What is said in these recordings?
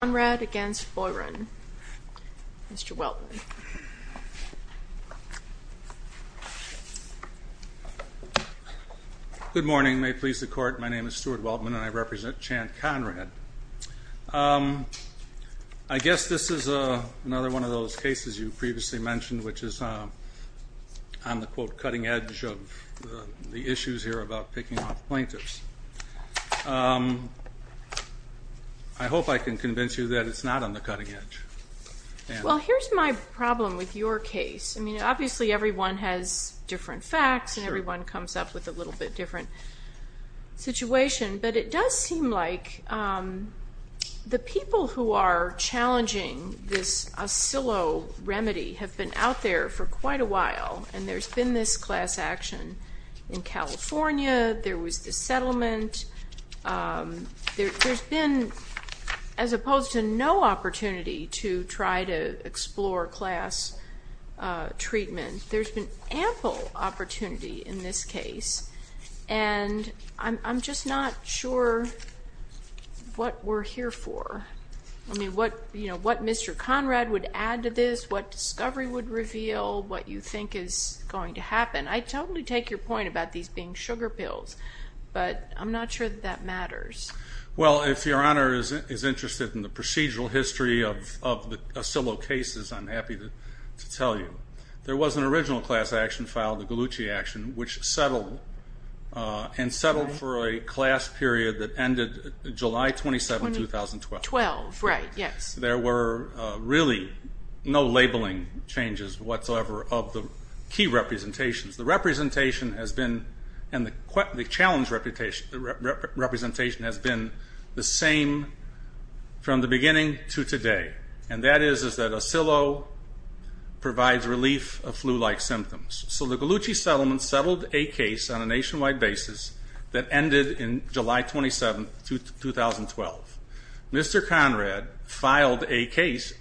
Conrad v. Boiron. Mr. Weldman. Good morning. May it please the Court, my name is Stuart Weldman and I represent Chan Conrad. I guess this is another one of those cases you previously mentioned, which is on the, quote, cutting edge of the issues here about picking off plaintiffs. I hope I can convince you that it's not on the cutting edge. Well, here's my problem with your case. I mean, obviously everyone has different facts and everyone comes up with a little bit different situation, but it does seem like the people who are challenging this Osillo remedy have been out there for quite a while and there's been this class action in California, there was the settlement. There's been, as opposed to no opportunity to try to explore class treatment, there's been ample opportunity in this case. And I'm just not sure what we're here for. I mean, what Mr. Conrad would add to this, what discovery would reveal, what you think is going to happen. I totally take your point about these being sugar pills, but I'm not sure that that matters. Well, if Your Honor is interested in the procedural history of the Osillo cases, I'm happy to tell you. There was an original class action filed, the Gallucci action, which settled and settled for a class period that ended July 27, 2012. Right, yes. There were really no labeling changes whatsoever of the key representations. The representation has been, and the challenge representation has been the same from the beginning to today. And that is that Osillo provides relief of flu-like symptoms. So the Gallucci settlement settled a case on a nationwide basis that ended in July 27, 2012. Mr. Conrad filed a case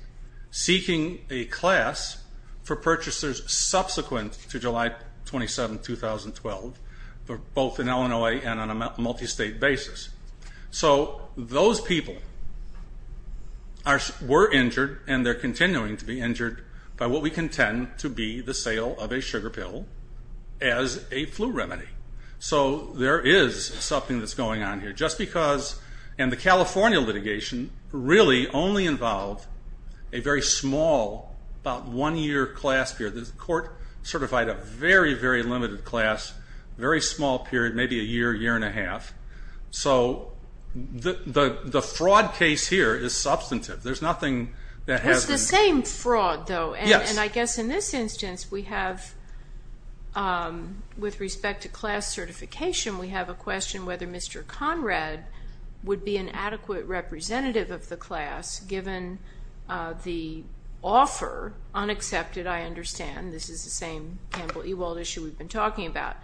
seeking a class for purchasers subsequent to July 27, 2012, both in Illinois and on a multi-state basis. So those people were injured and they're continuing to be injured by what we contend to be the sale of a sugar pill as a flu remedy. So there is something that's going on here. Just because, and the California litigation really only involved a very small, about one-year class period. The court certified a very, very limited class, very small period, maybe a year, year and a half. So the fraud case here is substantive. There's nothing that has been. It's the same fraud, though. Yes. And I guess in this instance we have, with respect to class certification, we have a question whether Mr. Conrad would be an adequate representative of the class, given the offer, unaccepted, I understand. This is the same Campbell-Ewald issue we've been talking about.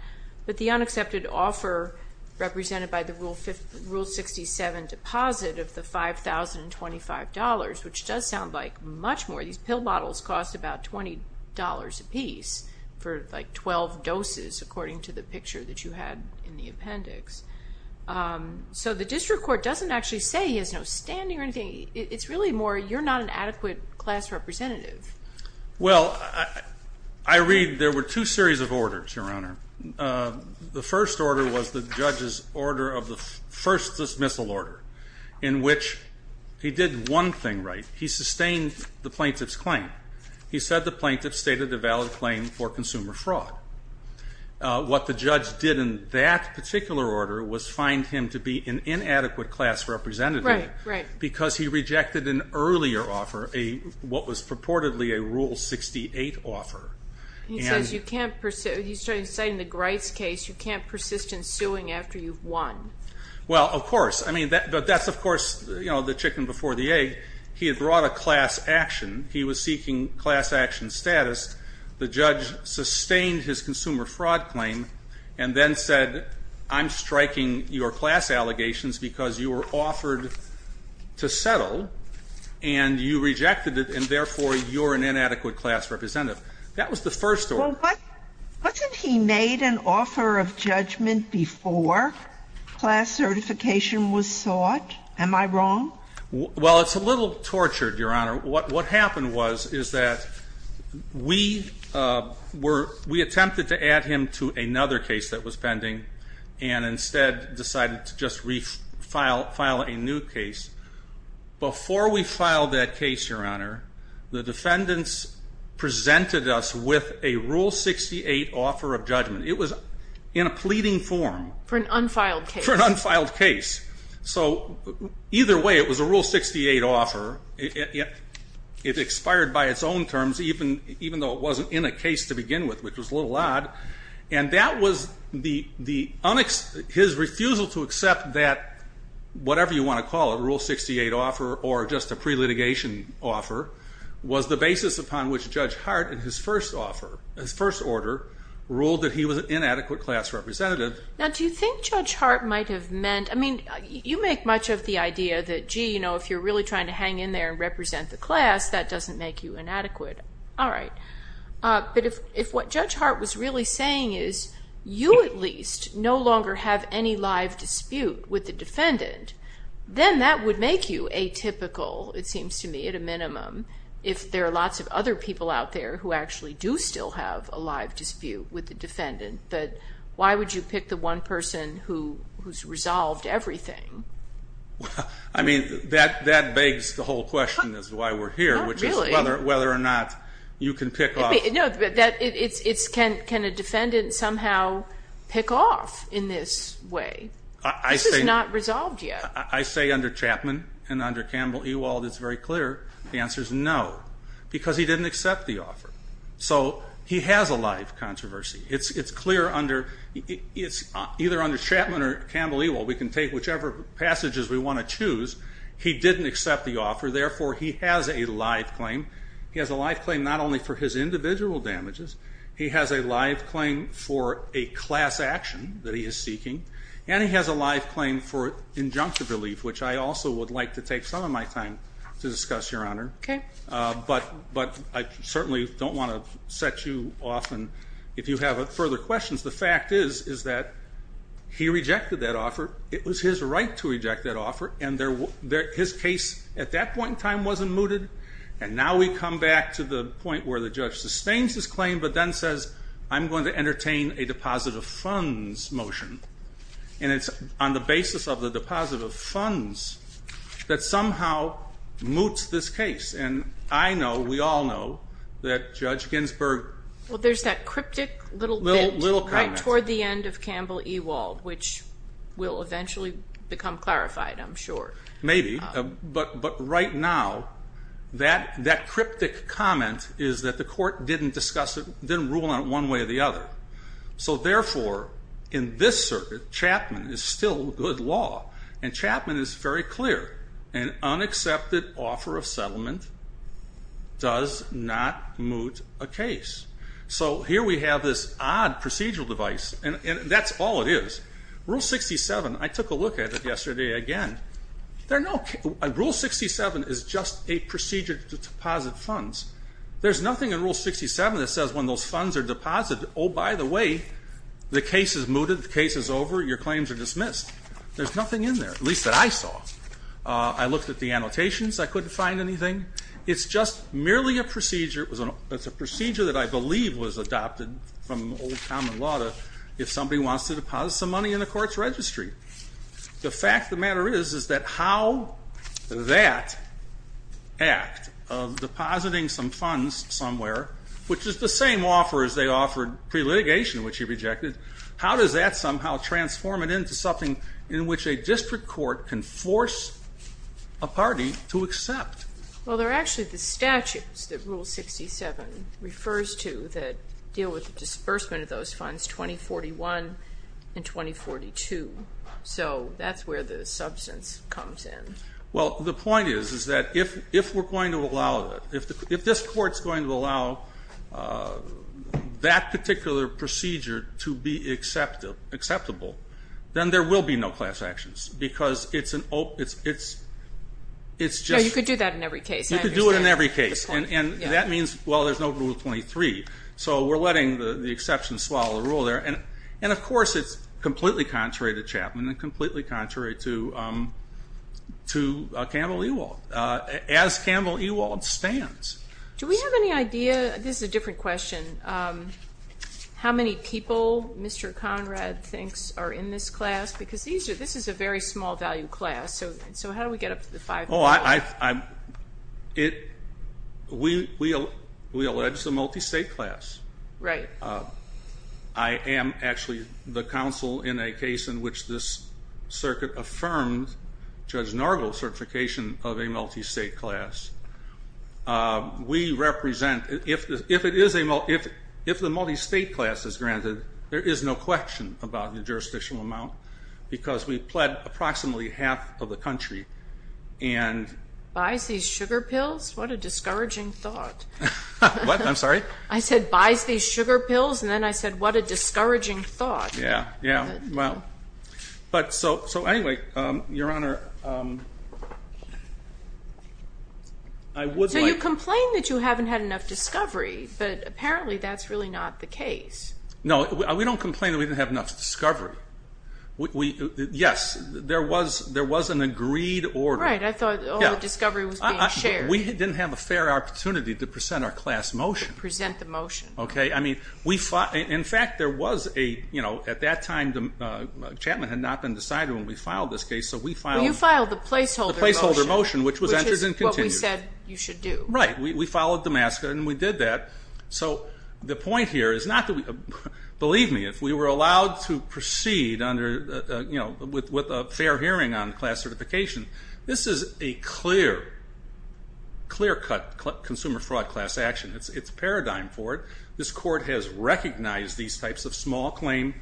But the unaccepted offer represented by the Rule 67 deposit of the $5,025, which does sound like much more. These pill bottles cost about $20 apiece for, like, 12 doses, according to the picture that you had in the appendix. So the district court doesn't actually say he has no standing or anything. It's really more you're not an adequate class representative. Well, I read there were two series of orders, Your Honor. The first order was the judge's order of the first dismissal order, in which he did one thing right. He sustained the plaintiff's claim. He said the plaintiff stated a valid claim for consumer fraud. What the judge did in that particular order was find him to be an inadequate class representative. Right, right. Because he rejected an earlier offer, what was purportedly a Rule 68 offer. He says you can't pursue, he's saying in the Grice case, you can't persist in suing after you've won. Well, of course. I mean, but that's, of course, you know, the chicken before the egg. He had brought a class action. He was seeking class action status. The judge sustained his consumer fraud claim and then said, I'm striking your class allegations because you were offered to settle and you rejected it and therefore you're an inadequate class representative. That was the first order. Wasn't he made an offer of judgment before class certification was sought? Am I wrong? Well, it's a little tortured, Your Honor. What happened was is that we attempted to add him to another case that was pending and instead decided to just file a new case. Before we filed that case, Your Honor, the defendants presented us with a Rule 68 offer of judgment. It was in a pleading form. For an unfiled case. For an unfiled case. So either way, it was a Rule 68 offer. It expired by its own terms, even though it wasn't in a case to begin with, which was a little odd. And that was his refusal to accept that whatever you want to call it, a Rule 68 offer or just a pre-litigation offer, was the basis upon which Judge Hart in his first order ruled that he was an inadequate class representative. Now, do you think Judge Hart might have meant, I mean, you make much of the idea that, gee, you know, if you're really trying to hang in there and represent the class, that doesn't make you inadequate. All right. But if what Judge Hart was really saying is you at least no longer have any live dispute with the defendant, then that would make you atypical, it seems to me, at a minimum, if there are lots of other people out there who actually do still have a live dispute with the defendant. But why would you pick the one person who's resolved everything? I mean, that begs the whole question as to why we're here, which is whether or not you can pick off. No, but can a defendant somehow pick off in this way? This is not resolved yet. I say under Chapman and under Campbell, Ewald, it's very clear the answer is no, because he didn't accept the offer. So he has a live controversy. It's clear under either under Chapman or Campbell, Ewald, we can take whichever passages we want to choose. He didn't accept the offer. Therefore, he has a live claim. He has a live claim not only for his individual damages. He has a live claim for a class action that he is seeking, and he has a live claim for injunctive relief, which I also would like to take some of my time to discuss, Your Honor. Okay. But I certainly don't want to set you off. And if you have further questions, the fact is that he rejected that offer. It was his right to reject that offer. And his case at that point in time wasn't mooted. And now we come back to the point where the judge sustains his claim but then says, I'm going to entertain a deposit of funds motion. And it's on the basis of the deposit of funds that somehow moots this case. And I know, we all know, that Judge Ginsburg. Well, there's that cryptic little bit toward the end of Campbell-Ewald, which will eventually become clarified, I'm sure. Maybe. But right now that cryptic comment is that the court didn't discuss it, didn't rule on it one way or the other. So, therefore, in this circuit, Chapman is still good law. And Chapman is very clear. An unaccepted offer of settlement does not moot a case. So here we have this odd procedural device. And that's all it is. Rule 67, I took a look at it yesterday again. Rule 67 is just a procedure to deposit funds. There's nothing in Rule 67 that says when those funds are deposited, oh, by the way, the case is mooted, the case is over, your claims are dismissed. There's nothing in there, at least that I saw. I looked at the annotations. I couldn't find anything. It's just merely a procedure. It's a procedure that I believe was adopted from old common law to if somebody wants to deposit some money in the court's registry. The fact of the matter is, is that how that act of depositing some funds somewhere, which is the same offer as they offered pre-litigation, which he rejected, how does that somehow transform it into something in which a district court can force a party to accept? Well, they're actually the statutes that Rule 67 refers to that deal with the disbursement of those funds, 2041 and 2042. So that's where the substance comes in. Well, the point is, is that if we're going to allow it, if this court's going to allow that particular procedure to be acceptable, then there will be no class actions because it's just- No, you could do that in every case. You could do it in every case. And that means, well, there's no Rule 23. So we're letting the exception swallow the rule there. And, of course, it's completely contrary to Chapman and completely contrary to Campbell Ewald. As Campbell Ewald stands- Do we have any idea-this is a different question-how many people Mr. Conrad thinks are in this class? Because this is a very small value class. So how do we get up to the five million? Oh, we allege it's a multi-state class. Right. I am actually the counsel in a case in which this circuit affirmed Judge Nargle's certification of a multi-state class. We represent-if the multi-state class is granted, there is no question about the jurisdictional amount because we've pled approximately half of the country. Buys these sugar pills? What a discouraging thought. What? I'm sorry? I said buys these sugar pills, and then I said what a discouraging thought. Yeah, yeah. Well, but so anyway, Your Honor, I would like- So you complain that you haven't had enough discovery, but apparently that's really not the case. No, we don't complain that we didn't have enough discovery. Yes, there was an agreed order. Right, I thought all the discovery was being shared. We didn't have a fair opportunity to present our class motion. To present the motion. Okay. I mean, in fact, there was a-at that time, Chapman had not been decided when we filed this case, so we filed- Well, you filed the placeholder motion. The placeholder motion, which was entered and continued. Which is what we said you should do. Right. We followed Damascus, and we did that. So the point here is not to-believe me, if we were allowed to proceed with a fair hearing on class certification, this is a clear-cut consumer fraud class action. It's a paradigm for it. This court has recognized these types of small-claim,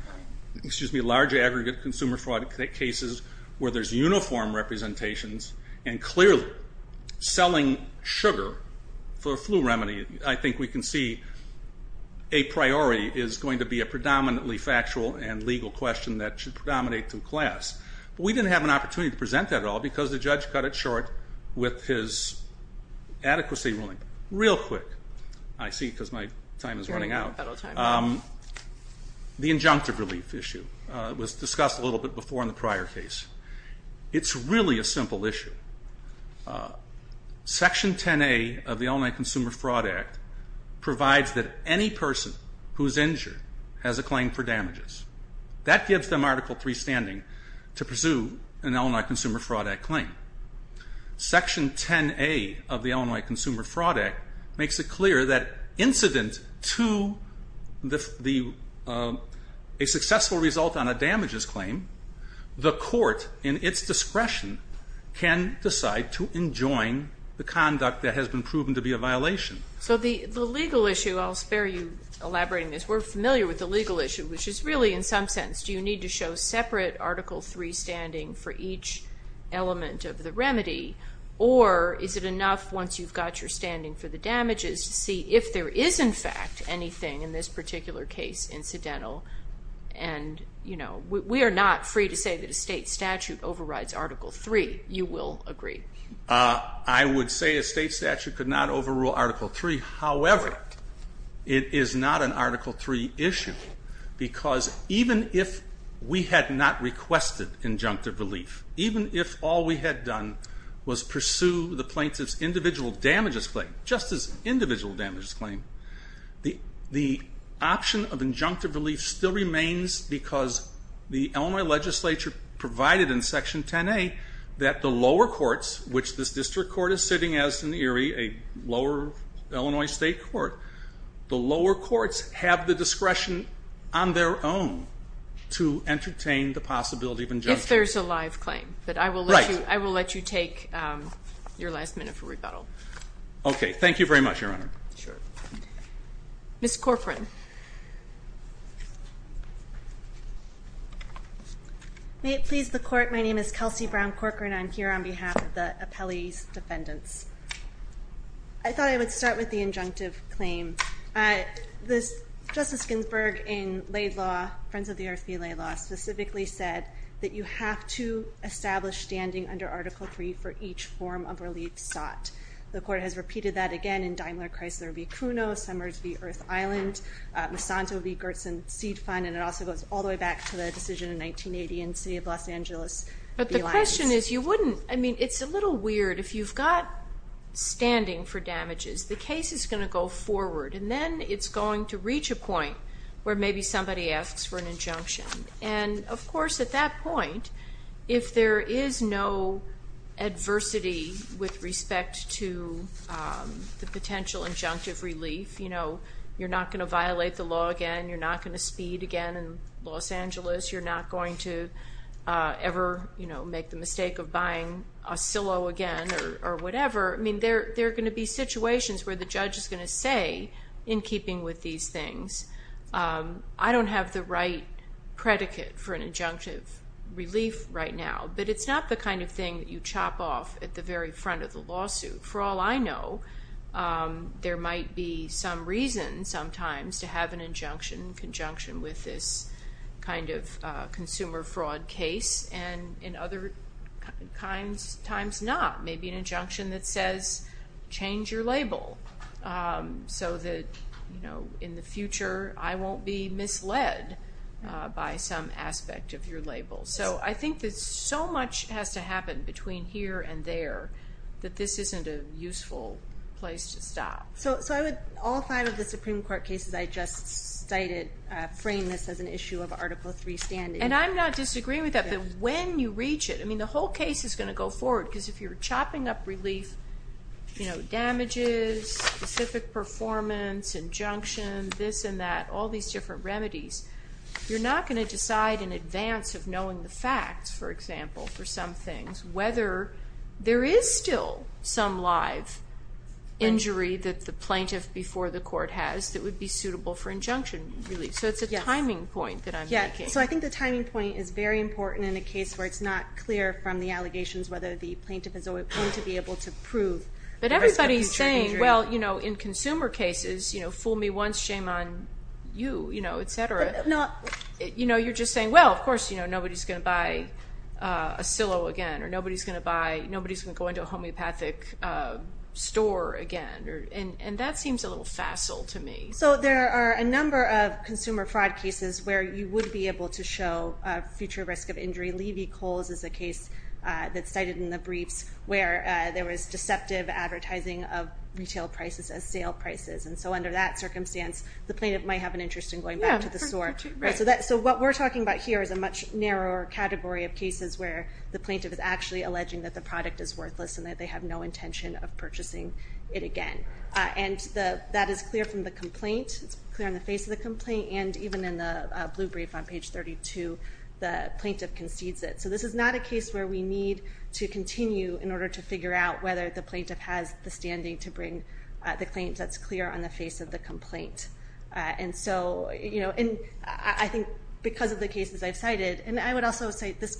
excuse me, large-aggregate consumer fraud cases where there's uniform representations, and clearly selling sugar for a flu remedy, I think we can see, a priori is going to be a predominantly factual and legal question that should predominate through class. But we didn't have an opportunity to present that at all because the judge cut it short with his adequacy ruling. Real quick, I see because my time is running out. The injunctive relief issue was discussed a little bit before in the prior case. It's really a simple issue. Section 10A of the Illinois Consumer Fraud Act provides that any person who is injured has a claim for damages. That gives them Article III standing to pursue an Illinois Consumer Fraud Act claim. Section 10A of the Illinois Consumer Fraud Act makes it clear that incident to a successful result on a damages claim, the court in its discretion can decide to enjoin the conduct that has been proven to be a violation. So the legal issue, I'll spare you elaborating this, we're familiar with the legal issue, which is really, in some sense, do you need to show separate Article III standing for each element of the remedy, or is it enough once you've got your standing for the damages to see if there is, in fact, anything in this particular case incidental? And, you know, we are not free to say that a state statute overrides Article III. You will agree. I would say a state statute could not overrule Article III. However, it is not an Article III issue. Because even if we had not requested injunctive relief, even if all we had done was pursue the plaintiff's individual damages claim, just his individual damages claim, the option of injunctive relief still remains because the Illinois legislature provided in Section 10A that the lower courts, which this district court is sitting as in Erie, a lower Illinois state court, the lower courts have the discretion on their own to entertain the possibility of injunction. If there's a live claim. Right. But I will let you take your last minute for rebuttal. Okay. Thank you very much, Your Honor. Sure. Ms. Corcoran. May it please the court, my name is Kelsey Brown Corcoran. I'm here on behalf of the appellee's defendants. I thought I would start with the injunctive claim. Justice Ginsburg in Laid Law, Friends of the Earth v. Laid Law, specifically said that you have to establish standing under Article III for each form of relief sought. The court has repeated that again in Daimler Chrysler v. Cuno, Summers v. Earth Island, Monsanto v. Gertsen Seed Fund, and it also goes all the way back to the decision in 1980 in the city of Los Angeles. But the question is, you wouldn't, I mean, it's a little weird. If you've got standing for damages, the case is going to go forward, and then it's going to reach a point where maybe somebody asks for an injunction. And, of course, at that point, if there is no adversity with respect to the potential injunctive relief, you know, you're not going to violate the law again, you're not going to speed again in Los Angeles, you're not going to ever, you know, make the mistake of buying a silo again or whatever. I mean, there are going to be situations where the judge is going to say, in keeping with these things, I don't have the right predicate for an injunctive relief right now. But it's not the kind of thing that you chop off at the very front of the lawsuit. For all I know, there might be some reason sometimes to have an injunction in conjunction with this kind of consumer fraud case, and in other times, not. Maybe an injunction that says, change your label so that, you know, in the future, I won't be misled by some aspect of your label. So I think that so much has to happen between here and there that this isn't a useful place to stop. So I would, all five of the Supreme Court cases I just cited, frame this as an issue of Article III standing. And I'm not disagreeing with that, but when you reach it, I mean, the whole case is going to go forward, because if you're chopping up relief, you know, damages, specific performance, injunction, this and that, all these different remedies, you're not going to decide in advance of knowing the facts, for example, for some things, whether there is still some live injury that the plaintiff before the court has that would be suitable for injunction relief. So it's a timing point that I'm making. So I think the timing point is very important in a case where it's not clear from the allegations whether the plaintiff is going to be able to prove. But everybody's saying, well, you know, in consumer cases, you know, fool me once, shame on you, you know, et cetera. You know, you're just saying, well, of course, you know, nobody's going to buy a silo again, or nobody's going to buy, nobody's going to go into a homeopathic store again. And that seems a little facile to me. So there are a number of consumer fraud cases where you would be able to show a future risk of injury. Levy-Coles is a case that's cited in the briefs where there was deceptive advertising of retail prices as sale prices. And so under that circumstance, the plaintiff might have an interest in going back to the store. So what we're talking about here is a much narrower category of cases where the plaintiff is actually alleging that the product is worthless and that they have no intention of purchasing it again. And that is clear from the complaint. It's clear on the face of the complaint. And even in the blue brief on page 32, the plaintiff concedes it. So this is not a case where we need to continue in order to figure out whether the plaintiff has the standing to bring the claim that's clear on the face of the complaint. And so, you know, I think because of the cases I've cited, and I would also say this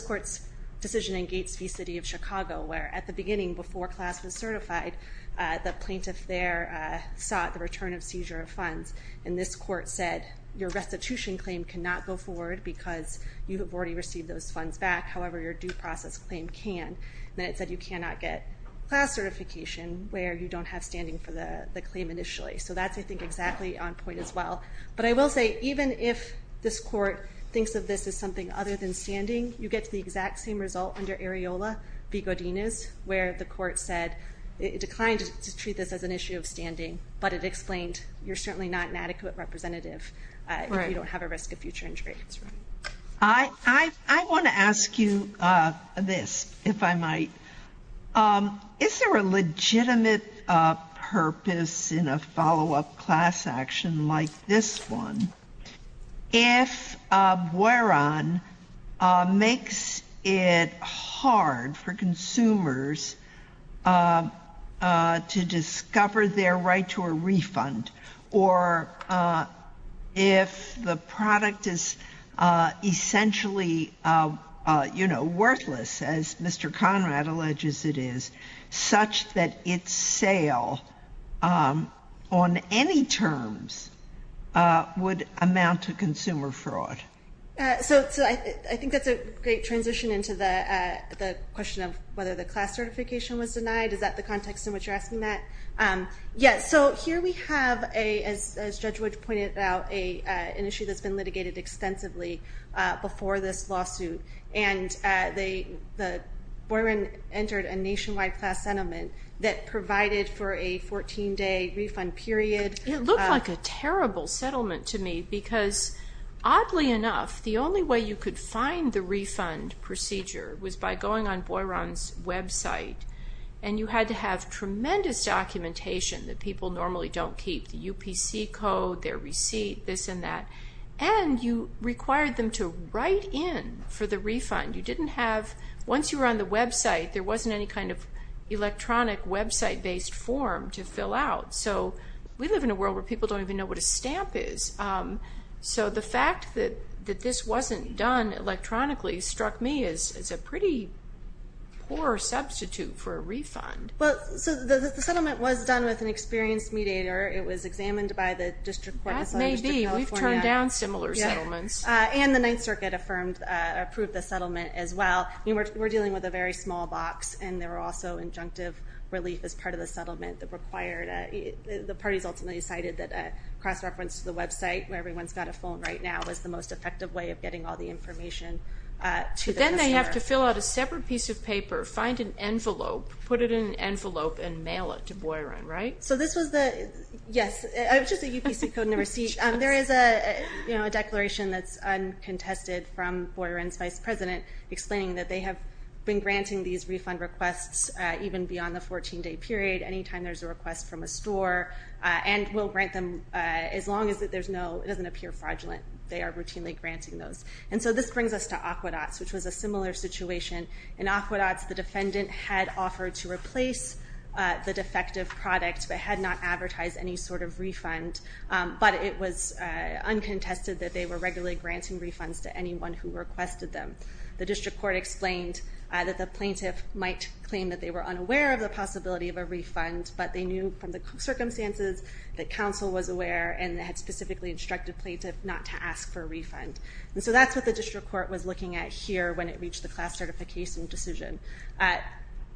court's decision in Gates v. City of Chicago, where at the beginning, before class was certified, the plaintiff there sought the return of seizure of funds. And this court said your restitution claim cannot go forward because you have already received those funds back. However, your due process claim can. And it said you cannot get class certification where you don't have standing for the claim initially. So that's, I think, exactly on point as well. But I will say, even if this court thinks of this as something other than standing, you get the exact same result under Areola v. Godinez, where the court said it declined to treat this as an issue of standing, but it explained you're certainly not an adequate representative if you don't have a risk of future injury. I want to ask you this, if I might. Is there a legitimate purpose in a follow-up class action like this one if Bueron makes it hard for consumers to discover their right to a refund? Or if the product is essentially, you know, worthless, as Mr. Conrad alleges it is, such that its sale on any terms would amount to consumer fraud? So I think that's a great transition into the question of whether the class certification was denied. Is that the context in which you're asking that? Yes. So here we have, as Judge Wood pointed out, an issue that's been litigated extensively before this lawsuit. And Bueron entered a nationwide class settlement that provided for a 14-day refund period. It looked like a terrible settlement to me because, oddly enough, the only way you could find the refund procedure was by going on Bueron's website. And you had to have tremendous documentation that people normally don't keep, the UPC code, their receipt, this and that. And you required them to write in for the refund. You didn't have, once you were on the website, there wasn't any kind of electronic website-based form to fill out. So we live in a world where people don't even know what a stamp is. So the fact that this wasn't done electronically struck me as a pretty poor substitute for a refund. Well, so the settlement was done with an experienced mediator. It was examined by the District Court. That may be. We've turned down similar settlements. And the Ninth Circuit approved the settlement as well. We're dealing with a very small box, and there were also injunctive relief as part of the settlement that required it. The parties ultimately decided that a cross-reference to the website, where everyone's got a phone right now, was the most effective way of getting all the information to the customer. But then they have to fill out a separate piece of paper, find an envelope, put it in an envelope, and mail it to Bueron, right? So this was the – yes. It was just a UPC code and a receipt. There is a declaration that's uncontested from Bueron's vice president explaining that they have been granting these refund requests even beyond the 14-day period. Anytime there's a request from a store, and we'll grant them as long as there's no – it doesn't appear fraudulent. They are routinely granting those. And so this brings us to Aquedots, which was a similar situation. In Aquedots, the defendant had offered to replace the defective product but had not advertised any sort of refund. But it was uncontested that they were regularly granting refunds to anyone who requested them. The district court explained that the plaintiff might claim that they were unaware of the possibility of a refund, but they knew from the circumstances that counsel was aware and had specifically instructed plaintiff not to ask for a refund. And so that's what the district court was looking at here when it reached the class certification decision.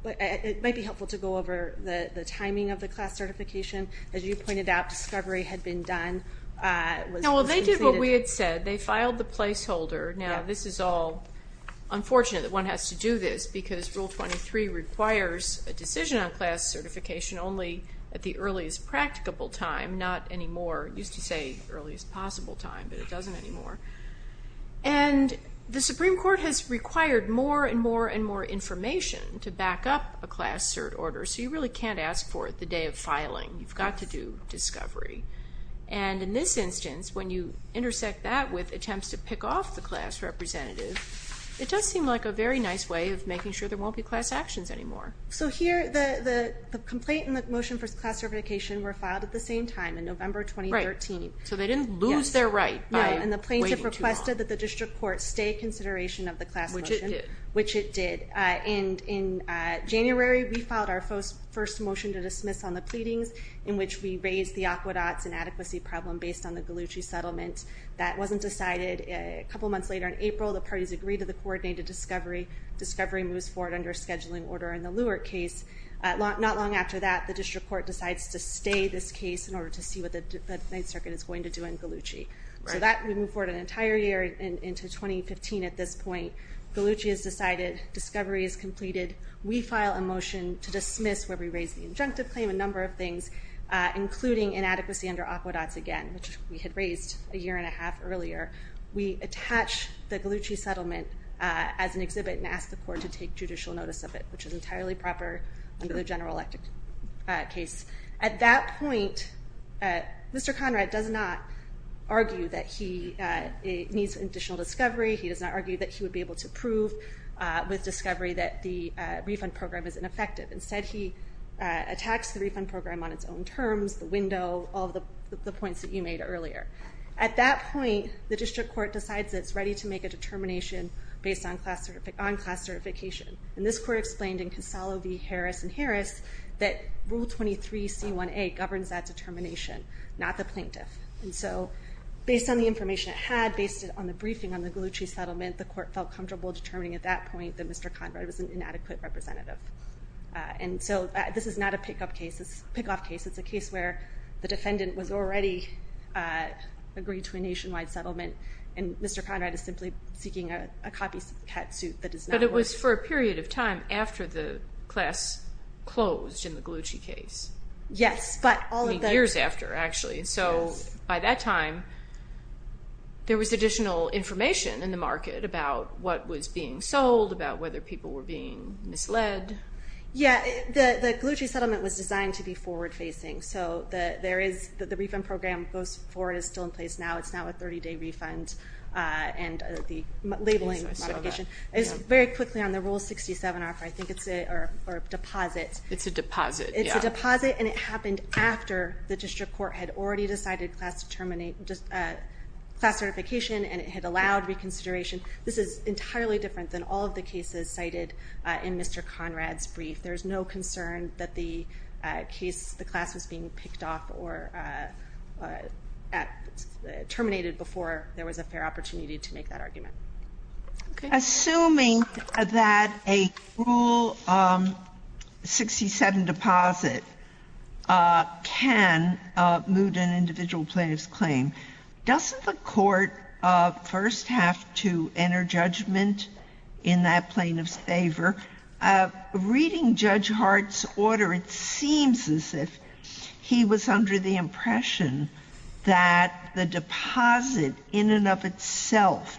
It might be helpful to go over the timing of the class certification. As you pointed out, discovery had been done. Well, they did what we had said. They filed the placeholder. Now, this is all unfortunate that one has to do this, because Rule 23 requires a decision on class certification only at the earliest practicable time, not anymore. It used to say earliest possible time, but it doesn't anymore. And the Supreme Court has required more and more and more information to back up a class cert order, so you really can't ask for it the day of filing. You've got to do discovery. And in this instance, when you intersect that with attempts to pick off the class representative, it does seem like a very nice way of making sure there won't be class actions anymore. So here, the complaint and the motion for class certification were filed at the same time, in November 2013. So they didn't lose their right by waiting too long. No, and the plaintiff requested that the district court stay in consideration of the class motion, which it did. In January, we filed our first motion to dismiss on the pleadings, in which we raised the aqueducts and adequacy problem based on the Gallucci settlement. That wasn't decided. A couple months later, in April, the parties agreed to the coordinated discovery. Discovery moves forward under a scheduling order in the Lewert case. Not long after that, the district court decides to stay this case in order to see what the Ninth Circuit is going to do in Gallucci. So that would move forward an entire year into 2015 at this point. Gallucci is decided. Discovery is completed. We file a motion to dismiss, where we raise the injunctive claim, a number of things, including inadequacy under aqueducts again, which we had raised a year and a half earlier. We attach the Gallucci settlement as an exhibit and ask the court to take judicial notice of it, which is entirely proper under the general electric case. At that point, Mr. Conrad does not argue that he needs additional discovery. He does not argue that he would be able to prove with discovery that the refund program is ineffective. Instead, he attacks the refund program on its own terms, the window, all of the points that you made earlier. At that point, the district court decides it's ready to make a determination based on class certification. And this court explained in Consalvo v. Harris v. Harris that Rule 23c1a governs that determination, not the plaintiff. And so based on the information it had, based on the briefing on the Gallucci settlement, the court felt comfortable determining at that point that Mr. Conrad was an inadequate representative. And so this is not a pick-up case. It's a pick-off case. It's a case where the defendant was already agreed to a nationwide settlement, and Mr. Conrad is simply seeking a copycat suit that does not work. But it was for a period of time after the class closed in the Gallucci case. Years after, actually. So by that time, there was additional information in the market about what was being sold, about whether people were being misled. Yeah, the Gallucci settlement was designed to be forward-facing. So the refund program goes forward and is still in place now. It's now a 30-day refund, and the labeling modification is very quickly on the Rule 67 offer. I think it's a deposit. It's a deposit, yeah. It's a deposit, and it happened after the district court had already decided class certification, and it had allowed reconsideration. This is entirely different than all of the cases cited in Mr. Conrad's brief. There is no concern that the class was being picked off or terminated before there was a fair opportunity to make that argument. Assuming that a Rule 67 deposit can moot an individual plaintiff's claim, doesn't the court first have to enter judgment in that plaintiff's favor? Reading Judge Hart's order, it seems as if he was under the impression that the deposit in and of itself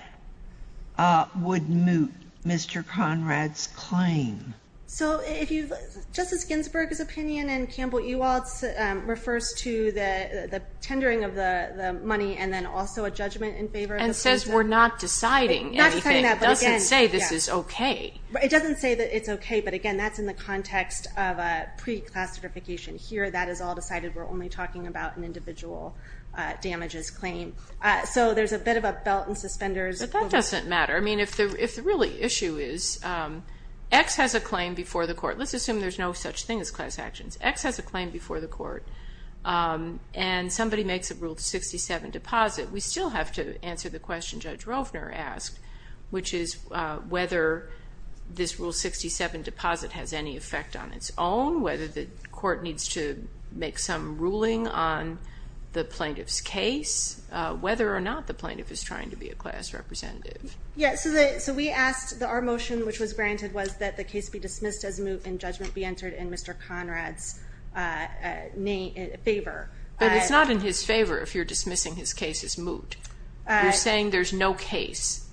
would moot Mr. Conrad's claim. So Justice Ginsburg's opinion and Campbell Ewald's refers to the tendering of the money and then also a judgment in favor of the plaintiff. And says we're not deciding anything. It doesn't say this is okay. It doesn't say that it's okay, but again, that's in the context of a pre-class certification. Here, that is all decided. We're only talking about an individual damages claim. So there's a bit of a belt and suspenders. But that doesn't matter. I mean, if the real issue is X has a claim before the court. Let's assume there's no such thing as class actions. X has a claim before the court, and somebody makes a Rule 67 deposit. We still have to answer the question Judge Rovner asked, which is whether this Rule 67 deposit has any effect on its own, whether the court needs to make some ruling on the plaintiff's case, whether or not the plaintiff is trying to be a class representative. Yes, so we asked that our motion, which was granted, was that the case be dismissed as moot and judgment be entered in Mr. Conrad's favor. But it's not in his favor if you're dismissing his case as moot. You're saying there's no case.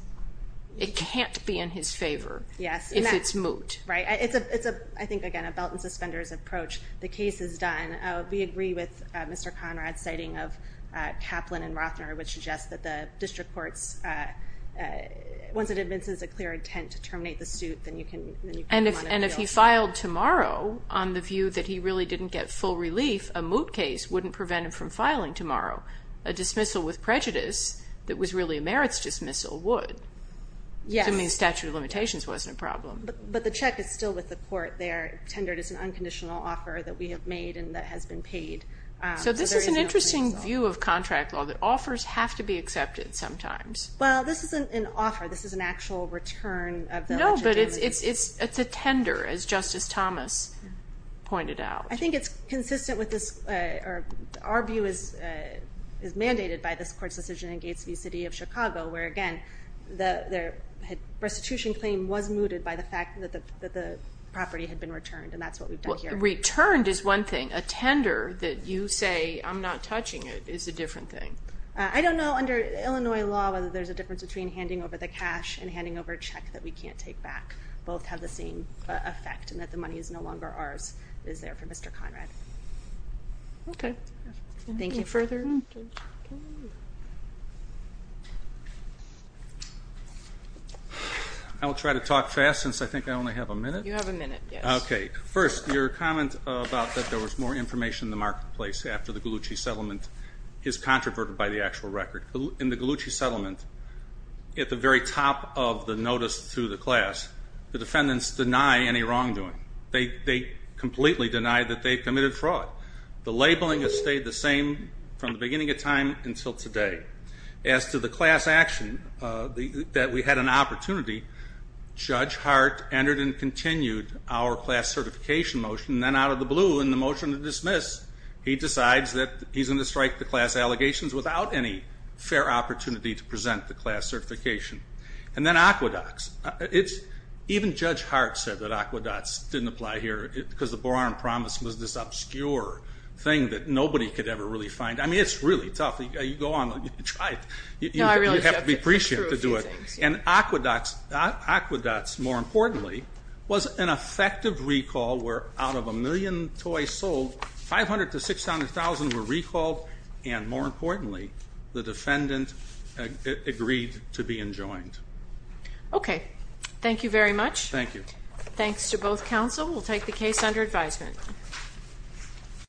It can't be in his favor if it's moot. Right. It's, I think, again, a belt and suspenders approach. The case is done. We agree with Mr. Conrad's citing of Kaplan and Rovner, which suggests that the district courts, once it evinces a clear intent to terminate the suit, then you can come on and appeal. And if he filed tomorrow on the view that he really didn't get full relief, a moot case wouldn't prevent him from filing tomorrow. A dismissal with prejudice that was really a merits dismissal would. Yes. To me, a statute of limitations wasn't a problem. But the check is still with the court there, tendered as an unconditional offer that we have made and that has been paid. So this is an interesting view of contract law, that offers have to be accepted sometimes. Well, this isn't an offer. This is an actual return of the legitimacy. No, but it's a tender, as Justice Thomas pointed out. I think it's consistent with this. Our view is mandated by this court's decision in Gates v. City of Chicago, where, again, the restitution claim was mooted by the fact that the property had been returned, and that's what we've done here. Returned is one thing. A tender that you say, I'm not touching it, is a different thing. I don't know, under Illinois law, whether there's a difference between handing over the cash and handing over a check that we can't take back. Both have the same effect in that the money is no longer ours. It is there for Mr. Conrad. Okay. Thank you. Anything further? I will try to talk fast since I think I only have a minute. You have a minute, yes. Okay. First, your comment about that there was more information in the marketplace after the Gallucci settlement is controverted by the actual record. In the Gallucci settlement, at the very top of the notice to the class, the defendants deny any wrongdoing. They completely deny that they committed fraud. The labeling has stayed the same from the beginning of time until today. As to the class action, that we had an opportunity, Judge Hart entered and continued our class certification motion, and then out of the blue, in the motion to dismiss, he decides that he's going to strike the class allegations without any fair opportunity to present the class certification. And then Aqueducts, even Judge Hart said that Aqueducts didn't apply here because the Boron promise was this obscure thing that nobody could ever really find. I mean, it's really tough. You go on and try it. You have to be appreciative to do it. And Aqueducts, more importantly, was an effective recall where out of a million toys sold, 500,000 to 600,000 were recalled, and more importantly, the defendant agreed to be enjoined. Okay. Thank you very much. Thank you. Thanks to both counsel. We'll take the case under advisement.